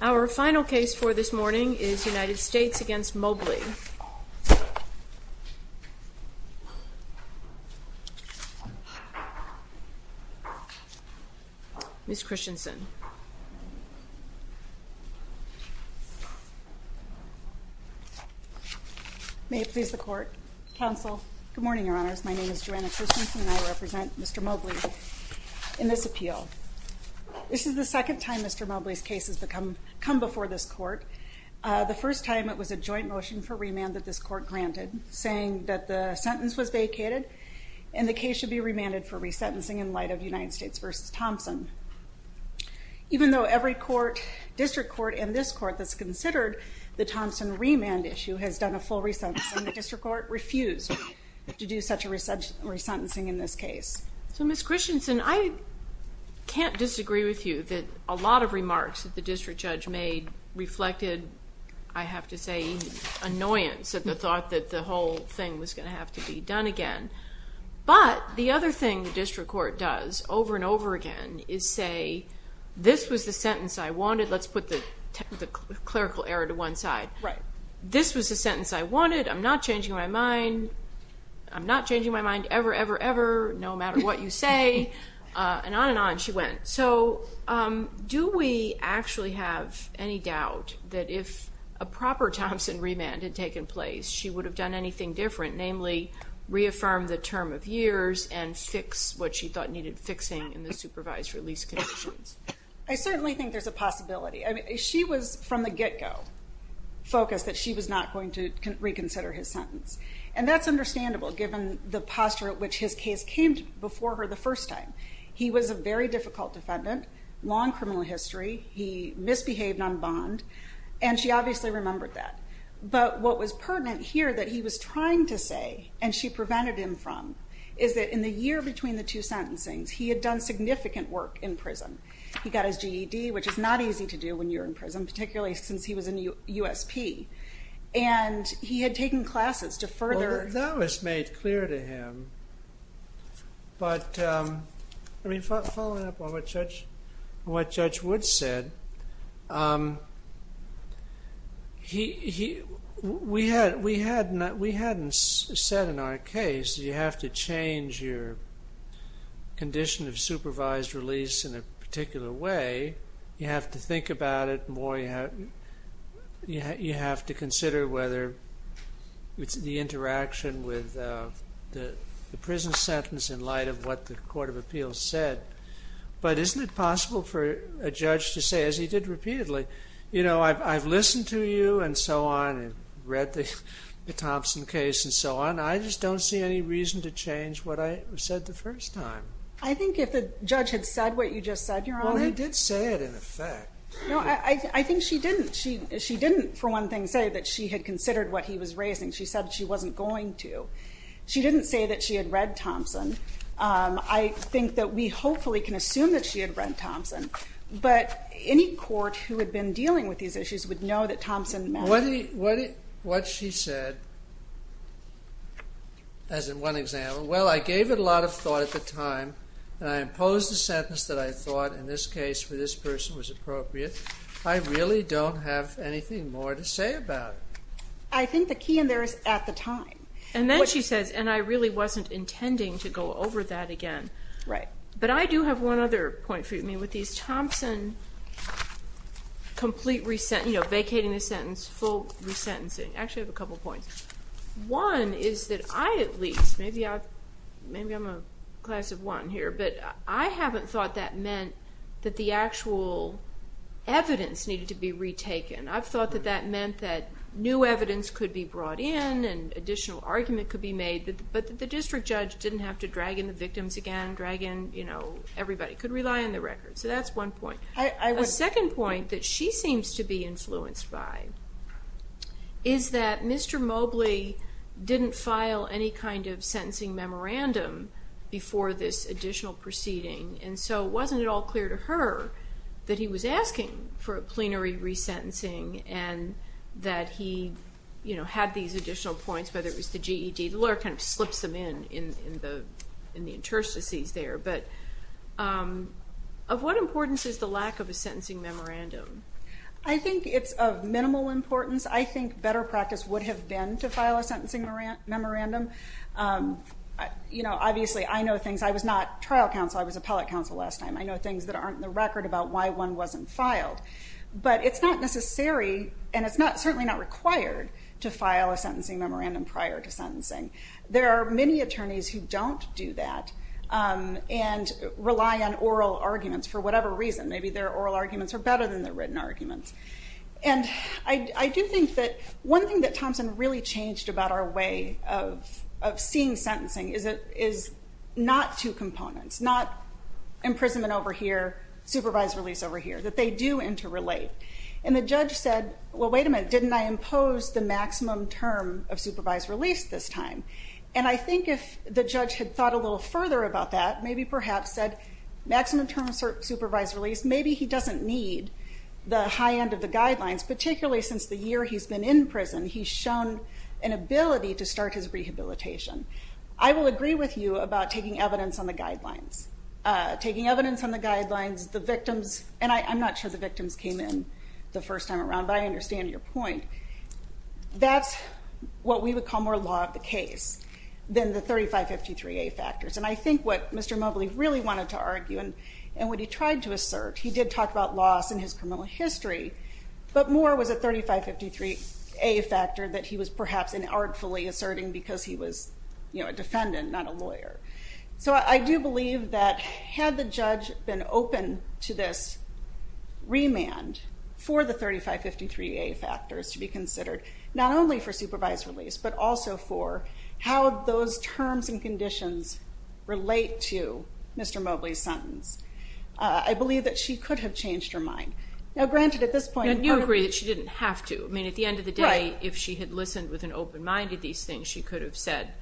Our final case for this morning is United States v. Mobley. Ms. Christensen. May it please the Court, Counsel. Good morning, Your Honors. My name is Joanna Christensen and I represent Mr. Mobley in this appeal. This is the second time Mr. Mobley's case has come before this Court. The first time it was a joint motion for remand that this Court granted, saying that the sentence was vacated and the case should be remanded for resentencing in light of United States v. Thompson. Even though every court, district court, and this Court that's considered the Thompson remand issue has done a full resentencing, the district court refused to do such a resentencing in this case. So Ms. Christensen, I can't disagree with you that a lot of remarks that the district judge made reflected, I have to say, annoyance at the thought that the whole thing was going to have to be done again. But the other thing the district court does over and over again is say, this was the sentence I wanted. Let's put the clerical error to one side. This was the sentence I wanted. I'm not changing my mind. I'm not changing my mind ever, ever, ever, no matter what you say. And on and on she went. So do we actually have any doubt that if a proper Thompson remand had taken place, she would have done anything different, namely reaffirm the term of years and fix what she thought needed fixing in the supervised release conditions? I certainly think there's a possibility. I mean, she was from the get-go focused that she was not going to reconsider his sentence. And that's understandable given the posture at which his case came before her the first time. He was a very difficult defendant, long criminal history. He misbehaved on bond, and she obviously remembered that. But what was pertinent here that he was trying to say, and she prevented him from, is that in the year between the two sentencings, he had done significant work in prison. He got his GED, which is not easy to do when you're in prison, particularly since he was a USP. And he had taken classes to further... We hadn't said in our case that you have to change your condition of supervised release in a particular way. You have to think about it more. You have to consider whether it's the interaction with the prison sentence in light of what the court of appeals said. But isn't it possible for a judge to say, as he did repeatedly, you know, I've listened to you and so on and read the Thompson case and so on. I just don't see any reason to change what I said the first time. I think if the judge had said what you just said, Your Honor... Well, he did say it in effect. No, I think she didn't. She didn't, for one thing, say that she had considered what he was raising. She said she wasn't going to. She didn't say that she had read Thompson. I think that we hopefully can assume that she had read Thompson. But any court who had been dealing with these issues would know that Thompson... What she said, as in one example, well, I gave it a lot of thought at the time, and I imposed a sentence that I thought in this case for this person was appropriate. I really don't have anything more to say about it. I think the key in there is at the time. And then she says, and I really wasn't intending to go over that again. Right. But I do have one other point for you, I mean, with these Thompson complete resent... you know, vacating the sentence, full resentencing. Actually, I have a couple points. One is that I at least, maybe I'm a class of one here, but I haven't thought that meant that the actual evidence needed to be retaken. I've thought that that meant that new evidence could be brought in and additional argument could be made, but the district judge didn't have to drag in the victims again, drag in, you know, everybody. Could rely on the records. So that's one point. A second point that she seems to be influenced by is that Mr. Mobley didn't file any kind of sentencing memorandum before this additional proceeding. And so it wasn't at all clear to her that he was asking for a plenary resentencing and that he, you know, had these additional points, whether it was the GED. The lawyer kind of slips them in, in the interstices there. But of what importance is the lack of a sentencing memorandum? I think it's of minimal importance. I think better practice would have been to file a sentencing memorandum. You know, obviously I know things I was not trial counsel. I was appellate counsel last time. I know things that aren't in the record about why one wasn't filed, but it's not necessary. And it's not certainly not required to file a sentencing memorandum prior to sentencing. There are many attorneys who don't do that and rely on oral arguments for whatever reason. Maybe their oral arguments are better than their written arguments. And I do think that one thing that Thompson really changed about our way of seeing sentencing is not two components, not imprisonment over here, supervised release over here, that they do interrelate. And the judge said, well, wait a minute, didn't I impose the maximum term of supervised release this time? And I think if the judge had thought a little further about that, maybe perhaps said maximum term of supervised release, maybe he doesn't need the high end of the guidelines, particularly since the year he's been in prison, he's shown an ability to start his rehabilitation. I will agree with you about taking evidence on the guidelines. Taking evidence on the guidelines, the victims, and I'm not sure the victims came in the first time around, but I understand your point. That's what we would call more law of the case than the 3553A factors. And I think what Mr. Mobley really wanted to argue and what he tried to assert, he did talk about loss in his criminal history, but more was a 3553A factor that he was perhaps artfully asserting because he was a defendant, not a lawyer. So I do believe that had the judge been open to this remand for the 3553A factors to be considered, not only for supervised release but also for how those terms and conditions relate to Mr. Mobley's sentence, I believe that she could have changed her mind. Now, granted, at this point... And you agree that she didn't have to. I mean, at the end of the day, if she had listened with an open mind to these things, she could have said,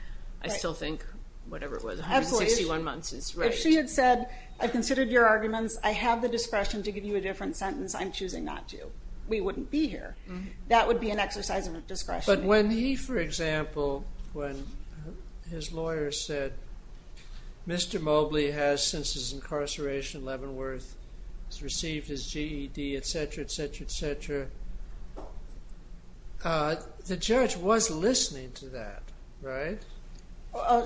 I still think, whatever it was, 161 months is right. If she had said, I've considered your arguments. I have the discretion to give you a different sentence. I'm choosing not to. We wouldn't be here. That would be an exercise of discretion. But when he, for example, when his lawyer said, Mr. Mobley has, since his incarceration in Leavenworth, has received his GED, et cetera, et cetera, et cetera, the judge was listening to that, right?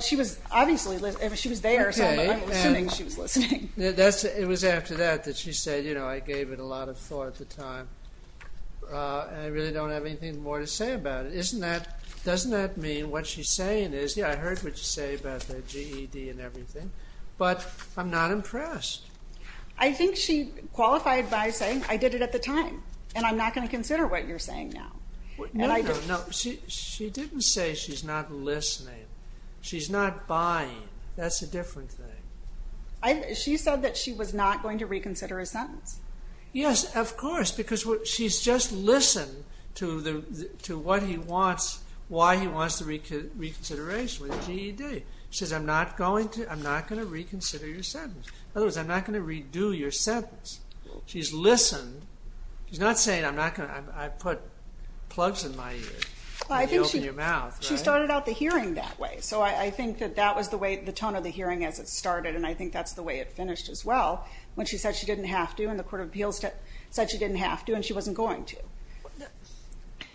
She was obviously listening. She was there, so I'm assuming she was listening. It was after that that she said, you know, I gave it a lot of thought at the time, and I really don't have anything more to say about it. Doesn't that mean what she's saying is, yeah, I heard what you say about the GED and everything, but I'm not impressed. I think she qualified by saying, I did it at the time, and I'm not going to consider what you're saying now. No, no, no. She didn't say she's not listening. She's not buying. That's a different thing. She said that she was not going to reconsider his sentence. Yes, of course, because she's just listened to what he wants, why he wants the reconsideration with the GED. She says, I'm not going to reconsider your sentence. In other words, I'm not going to redo your sentence. She's listened. She's not saying, I put plugs in my ear. I think she started out the hearing that way. So I think that that was the tone of the hearing as it started, and I think that's the way it finished as well, when she said she didn't have to and the court of appeals said she didn't have to and she wasn't going to.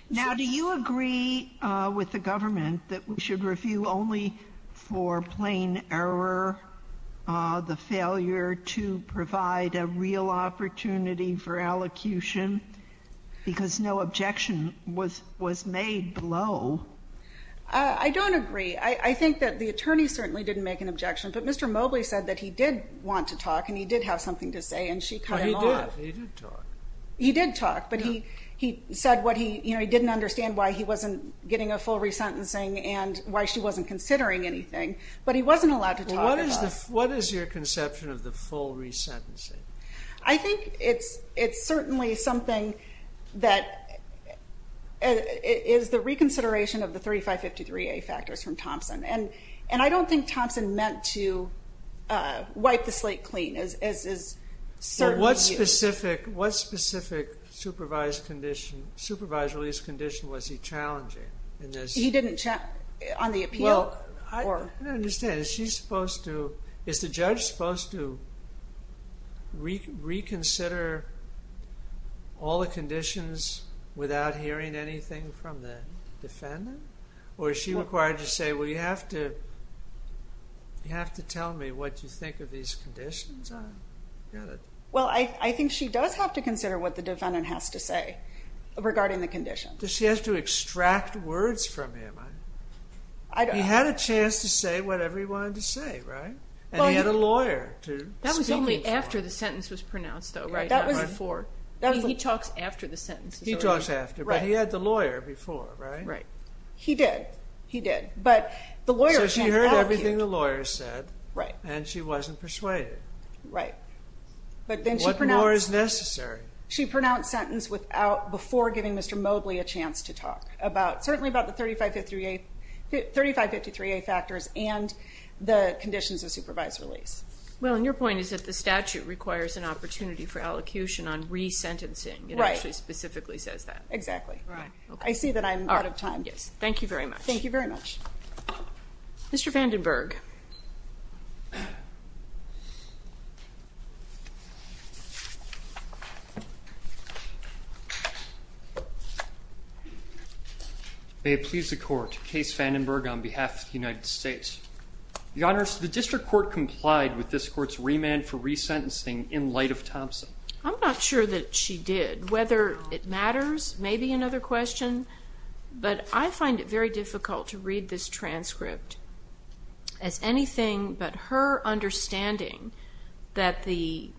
Now, do you agree with the government that we should review only for plain error the failure to provide a real opportunity for allocution because no objection was made below? I don't agree. I think that the attorney certainly didn't make an objection, but Mr. Mobley said that he did want to talk and he did have something to say and she cut him off. He did talk. He did talk, but he said he didn't understand why he wasn't getting a full resentencing and why she wasn't considering anything, but he wasn't allowed to talk at all. What is your conception of the full resentencing? I think it's certainly something that is the reconsideration of the 3553A factors from Thompson, and I don't think Thompson meant to wipe the slate clean. What specific supervised release condition was he challenging in this? He didn't challenge on the appeal? I don't understand. Is the judge supposed to reconsider all the conditions without hearing anything from the defendant, or is she required to say, well, you have to tell me what you think of these conditions? Well, I think she does have to consider what the defendant has to say regarding the condition. She has to extract words from him. He had a chance to say whatever he wanted to say, right? And he had a lawyer to speak in front of him. That was only after the sentence was pronounced, though, right? He talks after the sentence. He talks after, but he had the lawyer before, right? He did. So she heard everything the lawyer said, and she wasn't persuaded. Right. What more is necessary? She pronounced sentence before giving Mr. Mobley a chance to talk, certainly about the 3553A factors and the conditions of supervised release. Well, and your point is that the statute requires an opportunity for allocution on resentencing. It actually specifically says that. Exactly. I see that I'm out of time. Thank you very much. Thank you very much. Mr. Vandenberg. May it please the Court. Case Vandenberg on behalf of the United States. Your Honors, the District Court complied with this Court's remand for resentencing in light of Thompson. I'm not sure that she did. Whether it matters may be another question. But I find it very difficult to read this transcript as anything but her understanding that the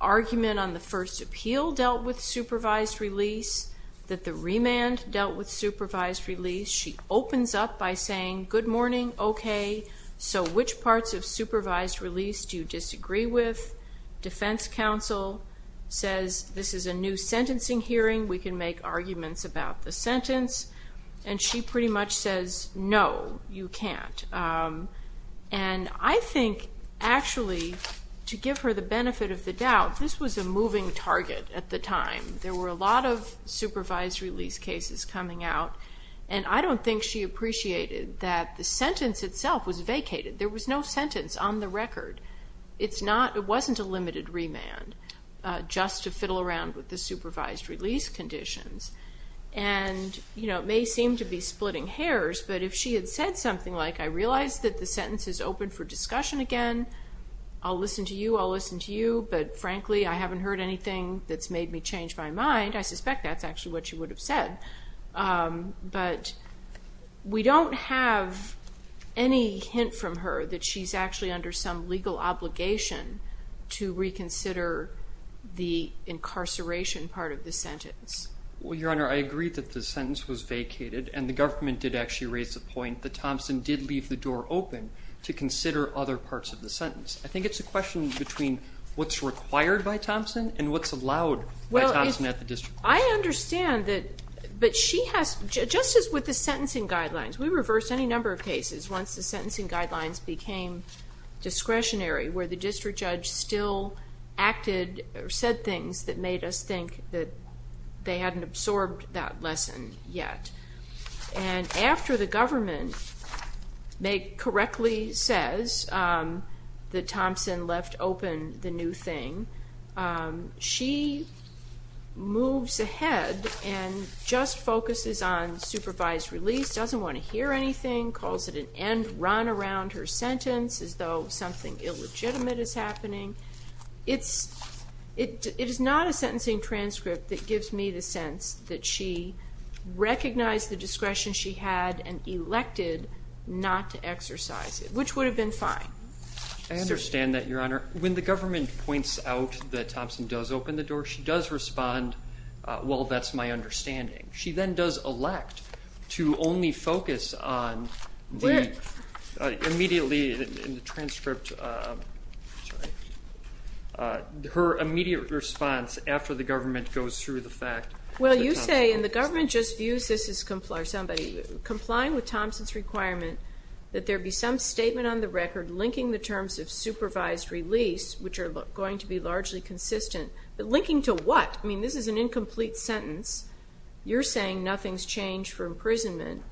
argument on the first appeal dealt with supervised release, that the remand dealt with supervised release. She opens up by saying, good morning, okay, so which parts of supervised release do you disagree with? Defense counsel says, this is a new sentencing hearing. We can make arguments about the sentence. And she pretty much says, no, you can't. And I think actually to give her the benefit of the doubt, this was a moving target at the time. There were a lot of supervised release cases coming out, and I don't think she appreciated that the sentence itself was vacated. There was no sentence on the record. It wasn't a limited remand just to fiddle around with the supervised release conditions. And it may seem to be splitting hairs, but if she had said something like, I realize that the sentence is open for discussion again, I'll listen to you, I'll listen to you, but frankly I haven't heard anything that's made me change my mind, I suspect that's actually what she would have said. But we don't have any hint from her that she's actually under some legal obligation to reconsider the incarceration part of the sentence. Well, Your Honor, I agree that the sentence was vacated, and the government did actually raise the point that Thompson did leave the door open to consider other parts of the sentence. I think it's a question between what's required by Thompson and what's allowed by Thompson at the district court. I understand that, but she has, just as with the sentencing guidelines, we reversed any number of cases once the sentencing guidelines became discretionary, where the district judge still acted or said things that made us think that they hadn't absorbed that lesson yet. And after the government correctly says that Thompson left open the new thing, she moves ahead and just focuses on supervised release, doesn't want to hear anything, calls it an end run around her sentence as though something illegitimate is happening. It is not a sentencing transcript that gives me the sense that she recognized the discretion she had and elected not to exercise it, which would have been fine. I understand that, Your Honor. When the government points out that Thompson does open the door, she does respond, well, that's my understanding. She then does elect to only focus on the immediately in the transcript, her immediate response after the government goes through the fact. Well, you say, and the government just views this as somebody complying with Thompson's requirement that there be some statement on the record linking the terms of supervised release, which are going to be largely consistent, but linking to what? I mean, this is an incomplete sentence. You're saying nothing's changed for imprisonment,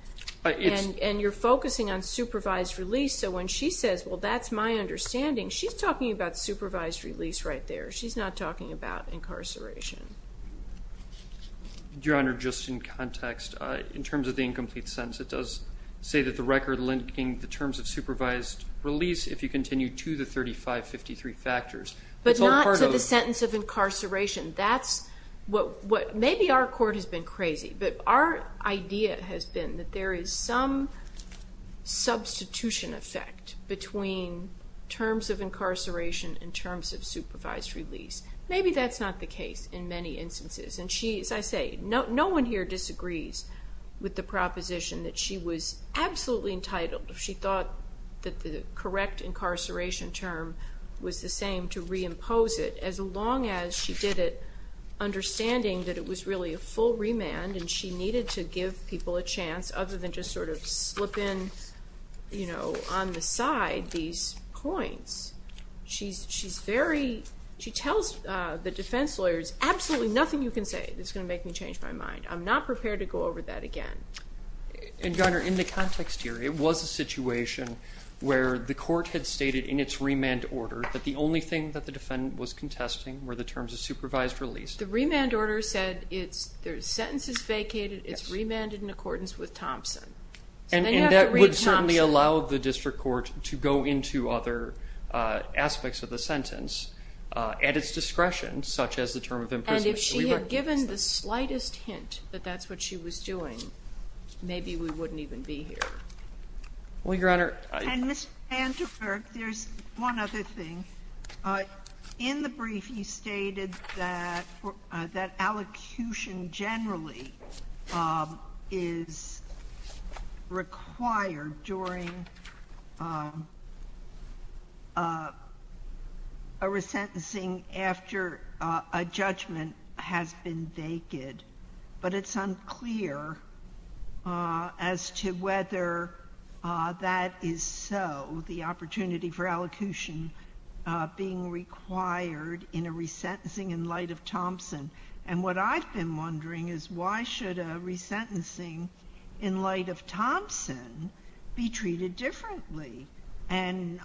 and you're focusing on supervised release. So when she says, well, that's my understanding, she's talking about supervised release right there. She's not talking about incarceration. Your Honor, just in context, in terms of the incomplete sentence, it does say that the record linking the terms of supervised release, if you continue, to the 3553 factors. But not to the sentence of incarceration. Maybe our court has been crazy, but our idea has been that there is some substitution effect between terms of incarceration and terms of supervised release. Maybe that's not the case in many instances. And she, as I say, no one here disagrees with the proposition that she was absolutely entitled, if she thought that the correct incarceration term was the same, to reimpose it, as long as she did it understanding that it was really a full remand, and she needed to give people a chance other than just sort of slip in on the side these points. She tells the defense lawyers, absolutely nothing you can say that's going to make me change my mind. I'm not prepared to go over that again. And, Your Honor, in the context here, it was a situation where the court had stated in its remand order that the only thing that the defendant was contesting were the terms of supervised release. The remand order said the sentence is vacated, it's remanded in accordance with Thompson. And that would certainly allow the district court to go into other aspects of the sentence at its discretion, such as the term of imprisonment. And if she had given the slightest hint that that's what she was doing, maybe we wouldn't even be here. Well, Your Honor. And, Mr. Vandenberg, there's one other thing. In the brief, you stated that allocution generally is required during a resentencing after a judgment has been vacated. But it's unclear as to whether that is so, the opportunity for allocution being required in a resentencing in light of Thompson. And what I've been wondering is why should a resentencing in light of Thompson be treated differently? And,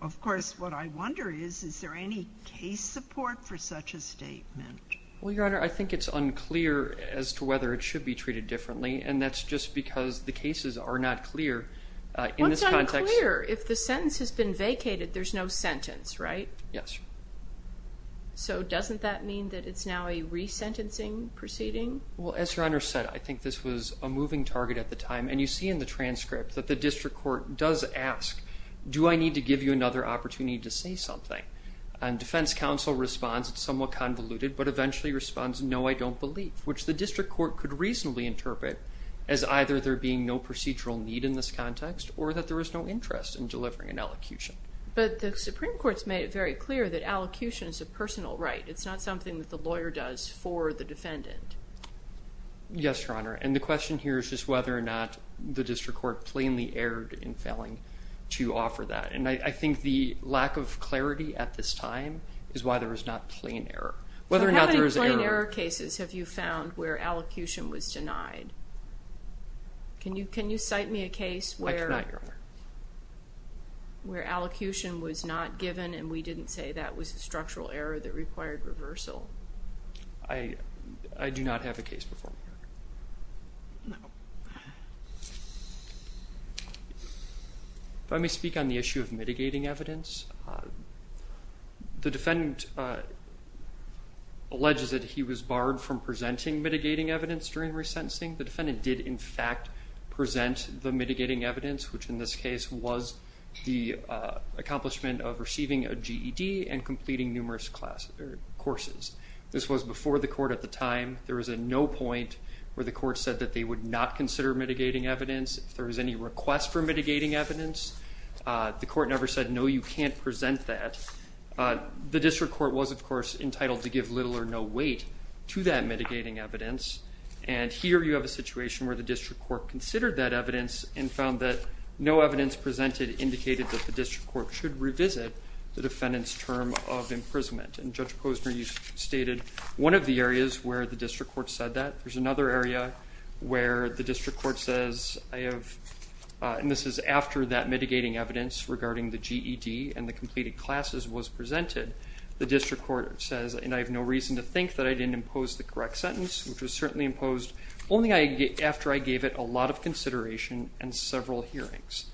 of course, what I wonder is, is there any case support for such a statement? Well, Your Honor, I think it's unclear as to whether it should be treated differently, and that's just because the cases are not clear in this context. What's unclear? If the sentence has been vacated, there's no sentence, right? Yes. So doesn't that mean that it's now a resentencing proceeding? Well, as Your Honor said, I think this was a moving target at the time. And you see in the transcript that the district court does ask, do I need to give you another opportunity to say something? And defense counsel responds somewhat convoluted, but eventually responds, no, I don't believe, which the district court could reasonably interpret as either there being no procedural need in this context or that there is no interest in delivering an allocution. But the Supreme Court's made it very clear that allocution is a personal right. It's not something that the lawyer does for the defendant. Yes, Your Honor. And the question here is just whether or not the district court plainly erred in failing to offer that. And I think the lack of clarity at this time is why there is not plain error. So how many plain error cases have you found where allocution was denied? Can you cite me a case where allocution was not given and we didn't say that was a structural error that required reversal? I do not have a case before me, Your Honor. No. Let me speak on the issue of mitigating evidence. The defendant alleges that he was barred from presenting mitigating evidence during resentencing. The defendant did, in fact, present the mitigating evidence, which in this case was the accomplishment of receiving a GED and completing numerous courses. This was before the court at the time. There was a no point where the court said that they would not consider mitigating evidence. If there was any request for mitigating evidence, the court never said, no, you can't present that. The district court was, of course, entitled to give little or no weight to that mitigating evidence. And here you have a situation where the district court considered that evidence and found that no evidence presented indicated that the district court should revisit the defendant's term of imprisonment. And Judge Posner, you stated one of the areas where the district court said that. There's another area where the district court says I have, and this is after that mitigating evidence regarding the GED and the completed classes was presented. The district court says, and I have no reason to think that I didn't impose the correct sentence, which was certainly imposed only after I gave it a lot of consideration and several hearings.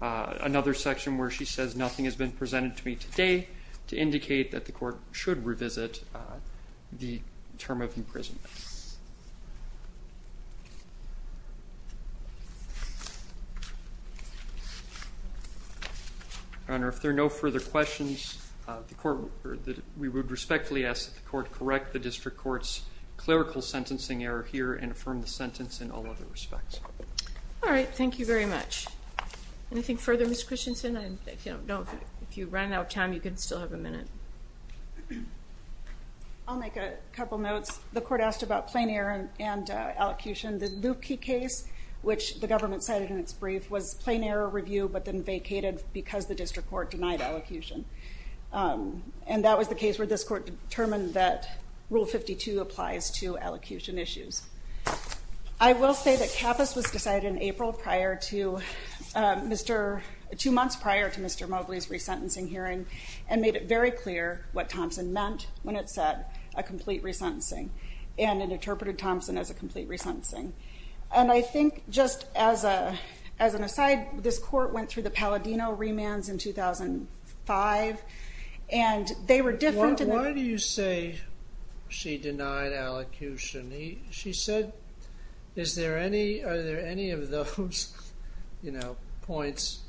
Another section where she says nothing has been presented to me today to indicate that the court should revisit the term of imprisonment. Your Honor, if there are no further questions, we would respectfully ask that the court correct the district court's clerical sentencing error here and affirm the sentence in all other respects. All right, thank you very much. Anything further, Ms. Christensen? I don't know if you ran out of time. You can still have a minute. I'll make a couple notes. The court asked about plain error and elocution. The Lupke case, which the government cited in its brief, was plain error review, but then vacated because the district court denied elocution. And that was the case where this court determined that Rule 52 applies to elocution issues. I will say that Kappas was decided in April, two months prior to Mr. Mobley's resentencing hearing, and made it very clear what Thompson meant when it said a complete resentencing, and it interpreted Thompson as a complete resentencing. And I think just as an aside, this court went through the Palladino remands in 2005, and they were different. Why do you say she denied elocution? She said, are there any of those points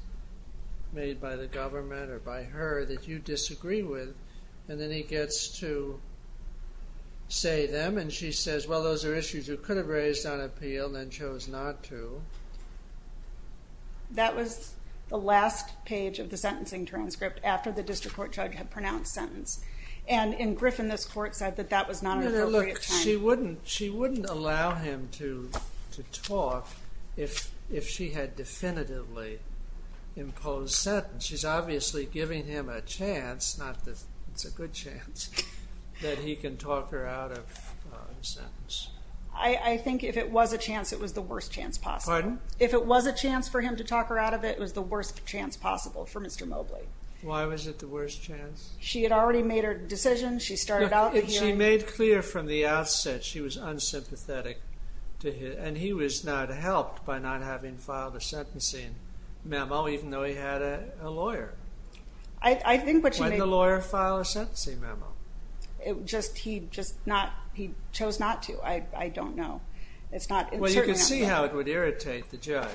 made by the government or by her that you disagree with? And then he gets to say them, and she says, well, those are issues you could have raised on appeal and then chose not to. That was the last page of the sentencing transcript after the district court judge had pronounced sentence. And in Griffin, this court said that that was not an appropriate time. She wouldn't allow him to talk if she had definitively imposed sentence. She's obviously giving him a chance, not that it's a good chance, that he can talk her out of a sentence. I think if it was a chance, it was the worst chance possible. Pardon? If it was a chance for him to talk her out of it, it was the worst chance possible for Mr. Mobley. Why was it the worst chance? She had already made her decision. She started out the hearing. She made clear from the outset she was unsympathetic to him. And he was not helped by not having filed a sentencing memo, even though he had a lawyer. When did the lawyer file a sentencing memo? He chose not to. I don't know. Well, you can see how it would irritate the judge.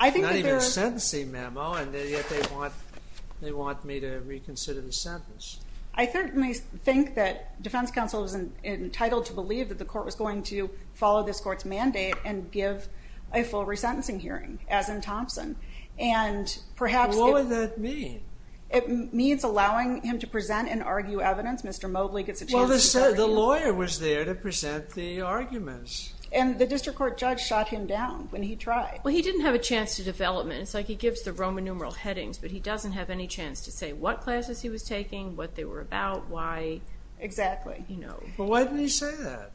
Not even a sentencing memo, and yet they want me to reconsider the sentence. I certainly think that defense counsel is entitled to believe that the court was going to follow this court's mandate and give a full resentencing hearing, as in Thompson. What would that mean? It means allowing him to present and argue evidence. Mr. Mobley gets a chance to do that. Well, the lawyer was there to present the arguments. And the district court judge shot him down when he tried. Well, he didn't have a chance to development. It's like he gives the Roman numeral headings, but he doesn't have any chance to say what classes he was taking, what they were about, why. Exactly. Well, why didn't he say that?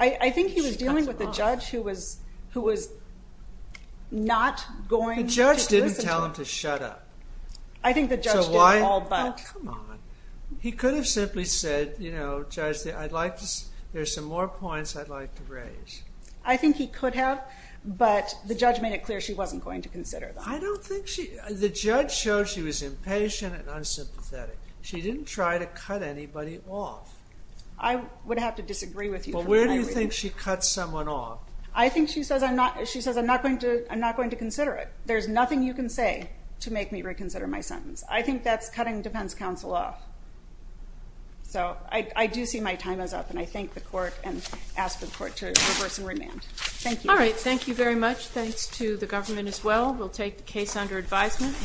I think he was dealing with a judge who was not going to listen to him. The judge didn't tell him to shut up. I think the judge did all but. Oh, come on. He could have simply said, you know, Judge, there's some more points I'd like to raise. I think he could have, but the judge made it clear she wasn't going to consider them. The judge showed she was impatient and unsympathetic. She didn't try to cut anybody off. I would have to disagree with you. Well, where do you think she cuts someone off? I think she says, I'm not going to consider it. There's nothing you can say to make me reconsider my sentence. I think that's cutting defense counsel off. So I do see my time is up. And I thank the court and ask the court to reverse and remand. Thank you. All right. Thank you very much. Thanks to the government as well. We'll take the case under advisement.